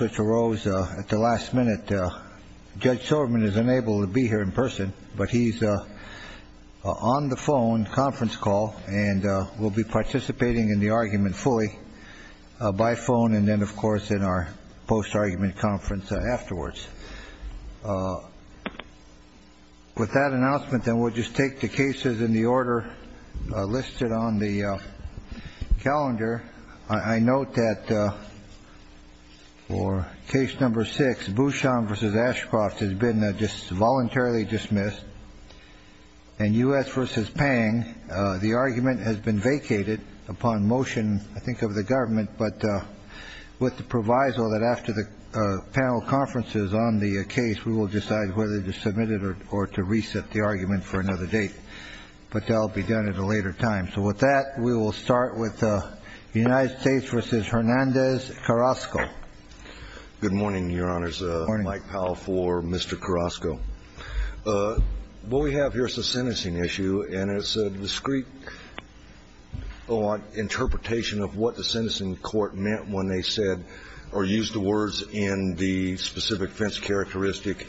which arose at the last minute. Judge Soberman is unable to be here in person, but he's on the phone, conference call, and will be participating in the argument fully by phone and then, of course, in our post-argument conference afterwards. With that announcement, then, we'll just take the cases in the order listed on the calendar. I note that for case number six, Bouchon v. Ashcroft has been voluntarily dismissed, and U.S. v. Pang, the argument has been vacated upon motion, I think, of the government, but with the proviso that after the panel conference is on the case, we will decide whether to submit it or to reset the argument for another date. But that will be done at a later time. So with that, we will start with the United States v. Hernandez-Carrasco. Good morning, Your Honors. Good morning. Mike Powell for Mr. Carrasco. What we have here is a sentencing issue, and it's a discrete interpretation of what the sentencing court meant when they said or used the words in the specific fence characteristic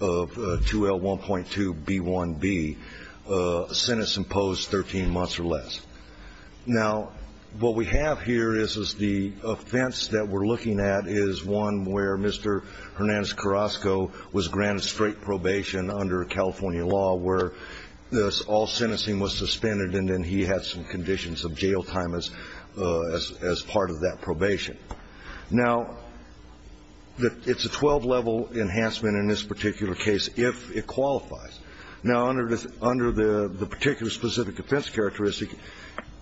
of 2L1.2B1B, a sentence imposed 13 months or less. Now, what we have here is the offense that we're looking at is one where Mr. Hernandez-Carrasco was granted straight probation under California law where all sentencing was suspended and then he had some conditions of jail time as part of that probation. Now, it's a 12-level enhancement in this particular case if it qualifies. Now, under the particular specific offense characteristic,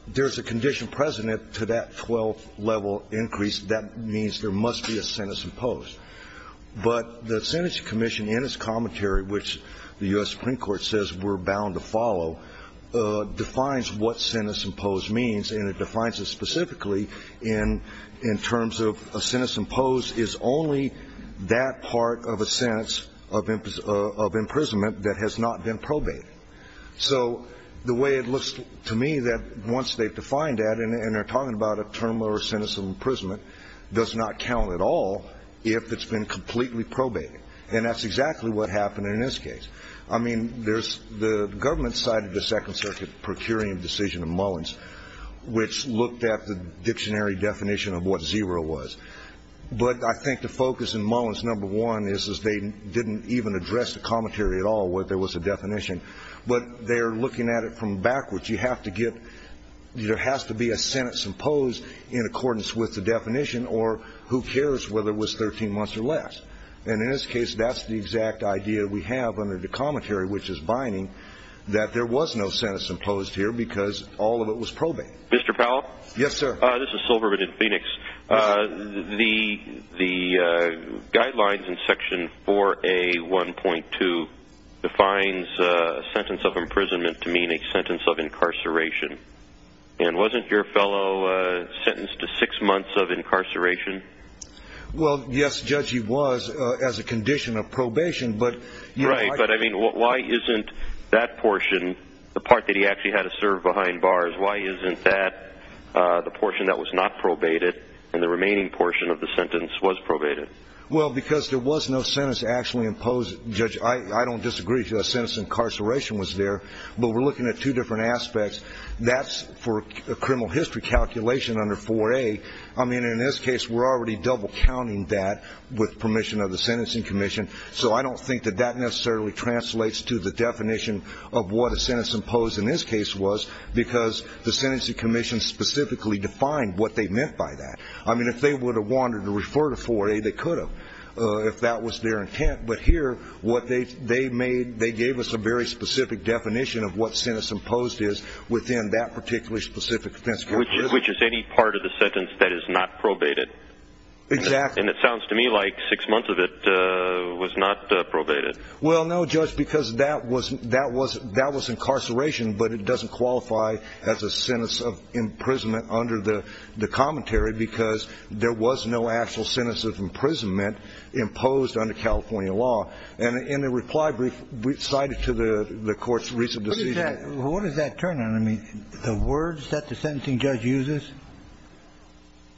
there's a condition present to that 12-level increase. That means there must be a sentence imposed. But the sentencing commission in its commentary, which the U.S. Supreme Court says we're bound to follow, defines what sentence imposed means, and it defines it specifically in terms of a sentence imposed is only that part of a sentence of imprisonment that has not been probated. So the way it looks to me that once they've defined that and they're talking about a term or a sentence of imprisonment does not count at all if it's been completely probated. And that's exactly what happened in this case. I mean, there's the government side of the Second Circuit procuring decision in Mullins, which looked at the dictionary definition of what zero was. But I think the focus in Mullins, number one, is they didn't even address the commentary at all where there was a definition. But they're looking at it from backwards. You have to get ñ there has to be a sentence imposed in accordance with the definition or who cares whether it was 13 months or less. And in this case, that's the exact idea we have under the commentary, which is binding, that there was no sentence imposed here because all of it was probated. Mr. Powell? Yes, sir. This is Silverman in Phoenix. The guidelines in Section 4A.1.2 defines a sentence of imprisonment to mean a sentence of incarceration. And wasn't your fellow sentenced to six months of incarceration? Well, yes, Judge, he was as a condition of probation. Right, but I mean, why isn't that portion, the part that he actually had to serve behind bars, why isn't that the portion that was not probated and the remaining portion of the sentence was probated? Well, because there was no sentence actually imposed, Judge. I don't disagree that a sentence of incarceration was there. But we're looking at two different aspects. That's for a criminal history calculation under 4A. I mean, in this case, we're already double counting that with permission of the Sentencing Commission. So I don't think that that necessarily translates to the definition of what a sentence imposed in this case was because the Sentencing Commission specifically defined what they meant by that. I mean, if they would have wanted to refer to 4A, they could have if that was their intent. But here, what they made, they gave us a very specific definition of what sentence imposed is within that particular specific sentence. Which is any part of the sentence that is not probated. Exactly. And it sounds to me like six months of it was not probated. Well, no, Judge, because that was incarceration, but it doesn't qualify as a sentence of imprisonment under the commentary because there was no actual sentence of imprisonment imposed under California law. And in the reply brief, we cited to the Court's recent decision. What does that turn on? I mean, the words that the sentencing judge uses?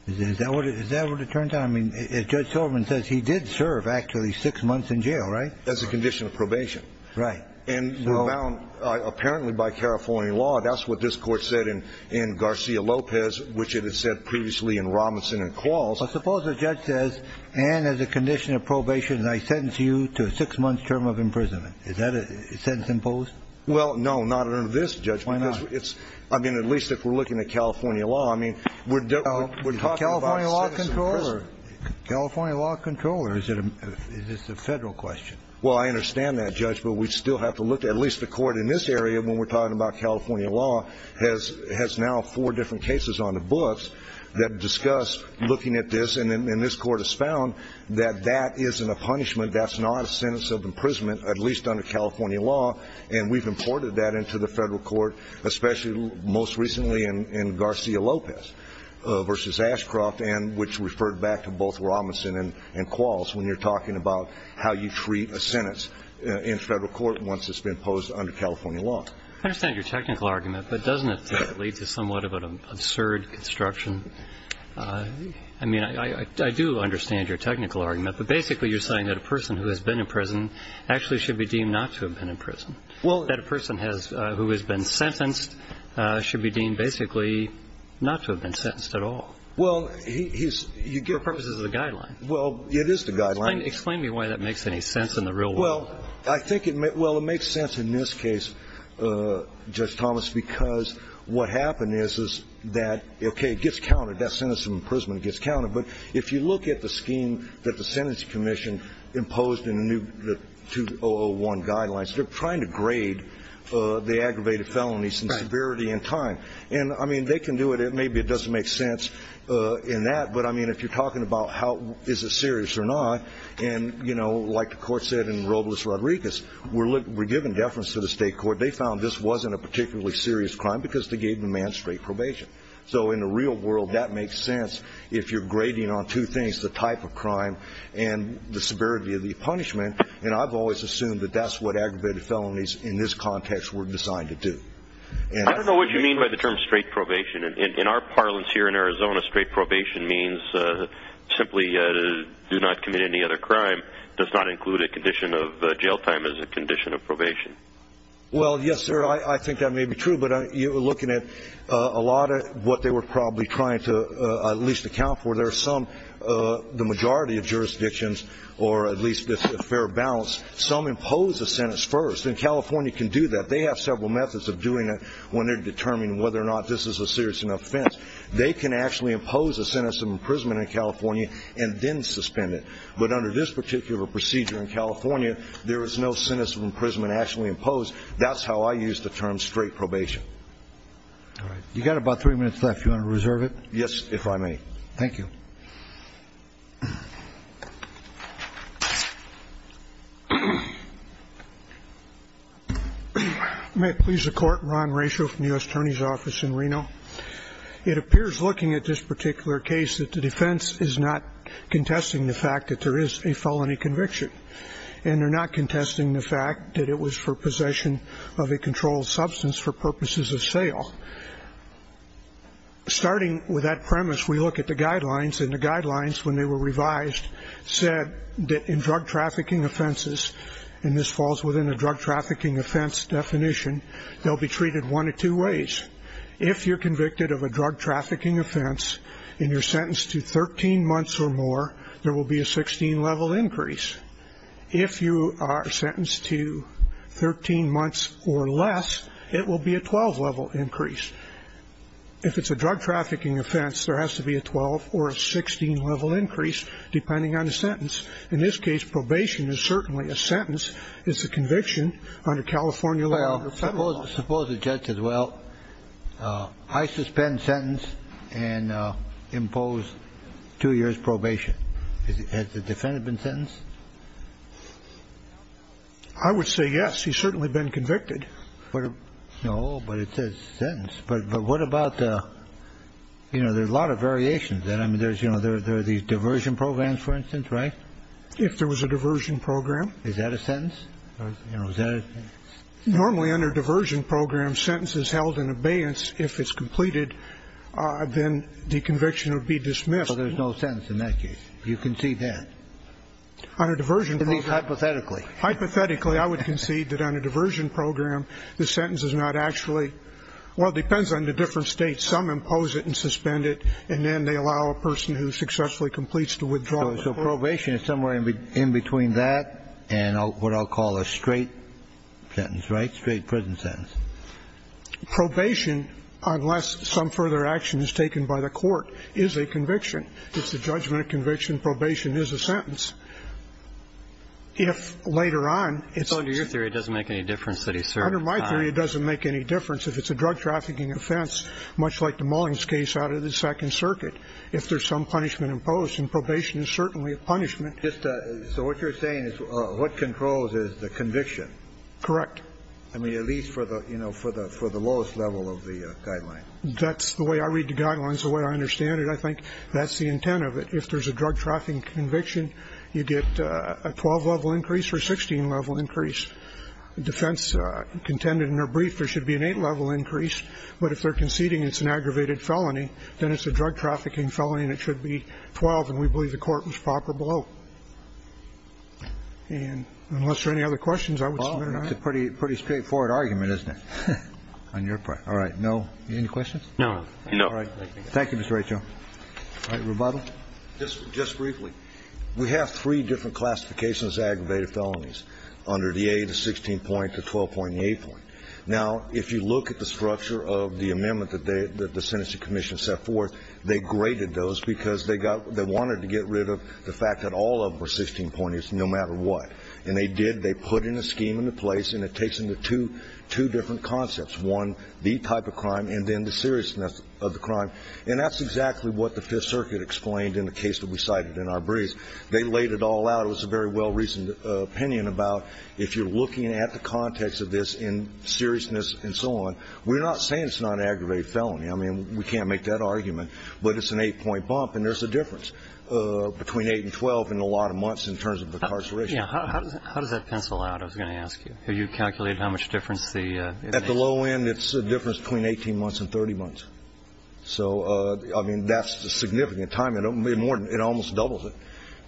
Is that what it turns on? I mean, Judge Silverman says he did serve actually six months in jail, right? As a condition of probation. Right. And we're bound apparently by California law. That's what this Court said in Garcia-Lopez, which it had said previously in Robinson and Qualls. But suppose the judge says, and as a condition of probation, I sentence you to a six-month term of imprisonment. Is that a sentence imposed? Well, no, not under this judgment. Why not? I mean, at least if we're looking at California law. I mean, we're talking about a sentence of imprisonment. California law control, or is this a Federal question? Well, I understand that, Judge, but we still have to look at least the Court in this area, when we're talking about California law, has now four different cases on the books that discuss looking at this. And this Court has found that that isn't a punishment. That's not a sentence of imprisonment, at least under California law. And we've imported that into the Federal Court, especially most recently in Garcia-Lopez v. Ashcroft, which referred back to both Robinson and Qualls, when you're talking about how you treat a sentence in Federal court once it's been imposed under California law. I understand your technical argument, but doesn't it lead to somewhat of an absurd construction? I mean, I do understand your technical argument, but basically you're saying that a person who has been in prison actually should be deemed not to have been in prison, that a person who has been sentenced should be deemed basically not to have been sentenced at all. Well, he's – For purposes of the guideline. Well, it is the guideline. Explain to me why that makes any sense in the real world. Well, I think it – well, it makes sense in this case, Judge Thomas, because what happened is, is that, okay, it gets counted. That sentence of imprisonment gets counted. But if you look at the scheme that the Sentencing Commission imposed in the new – the 2001 guidelines, they're trying to grade the aggravated felonies in severity and time. And, I mean, they can do it. Maybe it doesn't make sense in that. But, I mean, if you're talking about how – is it serious or not, and, you know, like the Court said in Robles-Rodriguez, we're giving deference to the State Court. They found this wasn't a particularly serious crime because they gave the man straight probation. So, in the real world, that makes sense if you're grading on two things, the type of crime and the severity of the punishment. And I've always assumed that that's what aggravated felonies in this context were designed to do. I don't know what you mean by the term straight probation. In our parlance here in Arizona, straight probation means simply do not commit any other crime, does not include a condition of jail time as a condition of probation. Well, yes, sir, I think that may be true. But you're looking at a lot of what they were probably trying to at least account for. There are some, the majority of jurisdictions, or at least a fair balance, some impose a sentence first. And California can do that. They have several methods of doing it when they're determining whether or not this is a serious enough offense. They can actually impose a sentence of imprisonment in California and then suspend it. But under this particular procedure in California, there is no sentence of imprisonment actually imposed. That's how I use the term straight probation. All right. You've got about three minutes left. Do you want to reserve it? Yes, if I may. Thank you. May it please the Court, Ron Ratio from the U.S. Attorney's Office in Reno. It appears, looking at this particular case, that the defense is not contesting the fact that there is a felony conviction. And they're not contesting the fact that it was for possession of a controlled substance for purposes of sale. Starting with that premise, we look at the guidelines. And the guidelines, when they were revised, said that in drug trafficking offenses, and this falls within a drug trafficking offense definition, they'll be treated one of two ways. If you're convicted of a drug trafficking offense and you're sentenced to 13 months or more, there will be a 16-level increase. If you are sentenced to 13 months or less, it will be a 12-level increase. If it's a drug trafficking offense, there has to be a 12 or a 16-level increase, depending on the sentence. In this case, probation is certainly a sentence. It's a conviction under California law. Suppose the judge says, well, I suspend sentence and impose two years probation. Has the defendant been sentenced? I would say yes. He's certainly been convicted. No, but it says sentence. But what about, you know, there's a lot of variations. I mean, there's, you know, there are these diversion programs, for instance, right? If there was a diversion program. Is that a sentence? Normally under diversion programs, sentence is held in abeyance. If it's completed, then the conviction would be dismissed. So there's no sentence in that case. You concede that. Under diversion programs. Hypothetically. Hypothetically, I would concede that under diversion program, the sentence is not actually well, it depends on the different states. Some impose it and suspend it, and then they allow a person who successfully completes to withdraw. So probation is somewhere in between that and what I'll call a straight sentence, right? Straight prison sentence. Probation, unless some further action is taken by the court, is a conviction. It's the judgment of conviction. Probation is a sentence. If later on it's. Under your theory, it doesn't make any difference that he served time. Under my theory, it doesn't make any difference. If it's a drug trafficking offense, much like the Mullings case out of the Second Circuit, if there's some punishment imposed, then probation is certainly a punishment. So what you're saying is what controls is the conviction. Correct. I mean, at least for the, you know, for the lowest level of the guideline. That's the way I read the guidelines, the way I understand it. I think that's the intent of it. If there's a drug trafficking conviction, you get a 12-level increase or a 16-level increase. Defense contended in their brief there should be an eight-level increase, but if they're a drug trafficking felony, and it should be 12, and we believe the court was proper below. And unless there are any other questions, I would submit or not. It's a pretty straightforward argument, isn't it, on your part? All right. No. Any questions? No. No. All right. Thank you, Mr. Rachel. All right. Rebuttal. Just briefly. We have three different classifications of aggravated felonies under the 8, the 16-point, the 12-point, and the 8-point. Now, if you look at the structure of the amendment that the sentencing commission set forth, they graded those because they wanted to get rid of the fact that all of them were 16-pointers no matter what. And they did. They put in a scheme into place, and it takes into two different concepts, one, the type of crime, and then the seriousness of the crime. And that's exactly what the Fifth Circuit explained in the case that we cited in our brief. They laid it all out. It was a very well-reasoned opinion about if you're looking at the context of this in seriousness and so on, we're not saying it's not an aggravated felony. I mean, we can't make that argument. But it's an 8-point bump, and there's a difference between 8 and 12 in a lot of months in terms of incarceration. Yeah. How does that pencil out, I was going to ask you? Have you calculated how much difference the 18 months? At the low end, it's a difference between 18 months and 30 months. So, I mean, that's a significant time. It almost doubles it.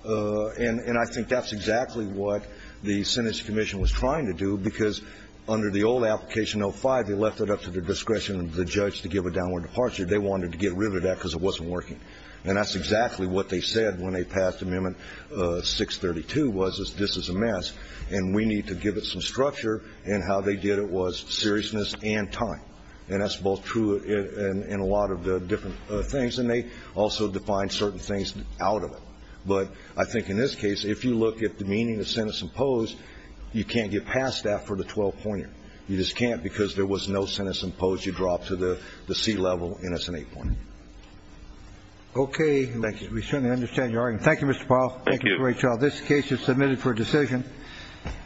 And I think that's exactly what the Sentencing Commission was trying to do, because under the old application, 05, they left it up to the discretion of the judge to give a downward departure. They wanted to get rid of that because it wasn't working. And that's exactly what they said when they passed Amendment 632, was this is a mess and we need to give it some structure. And how they did it was seriousness and time. And that's both true in a lot of the different things. And they also defined certain things out of it. But I think in this case, if you look at the meaning of sentence imposed, you can't get past that for the 12-pointer. You just can't because there was no sentence imposed. You drop to the C level and it's an 8-pointer. Okay. Thank you. We certainly understand your argument. Thank you, Mr. Powell. Thank you. This case is submitted for decision.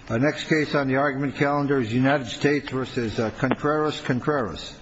Our next case on the argument calendar is United States v. Contreras-Contreras.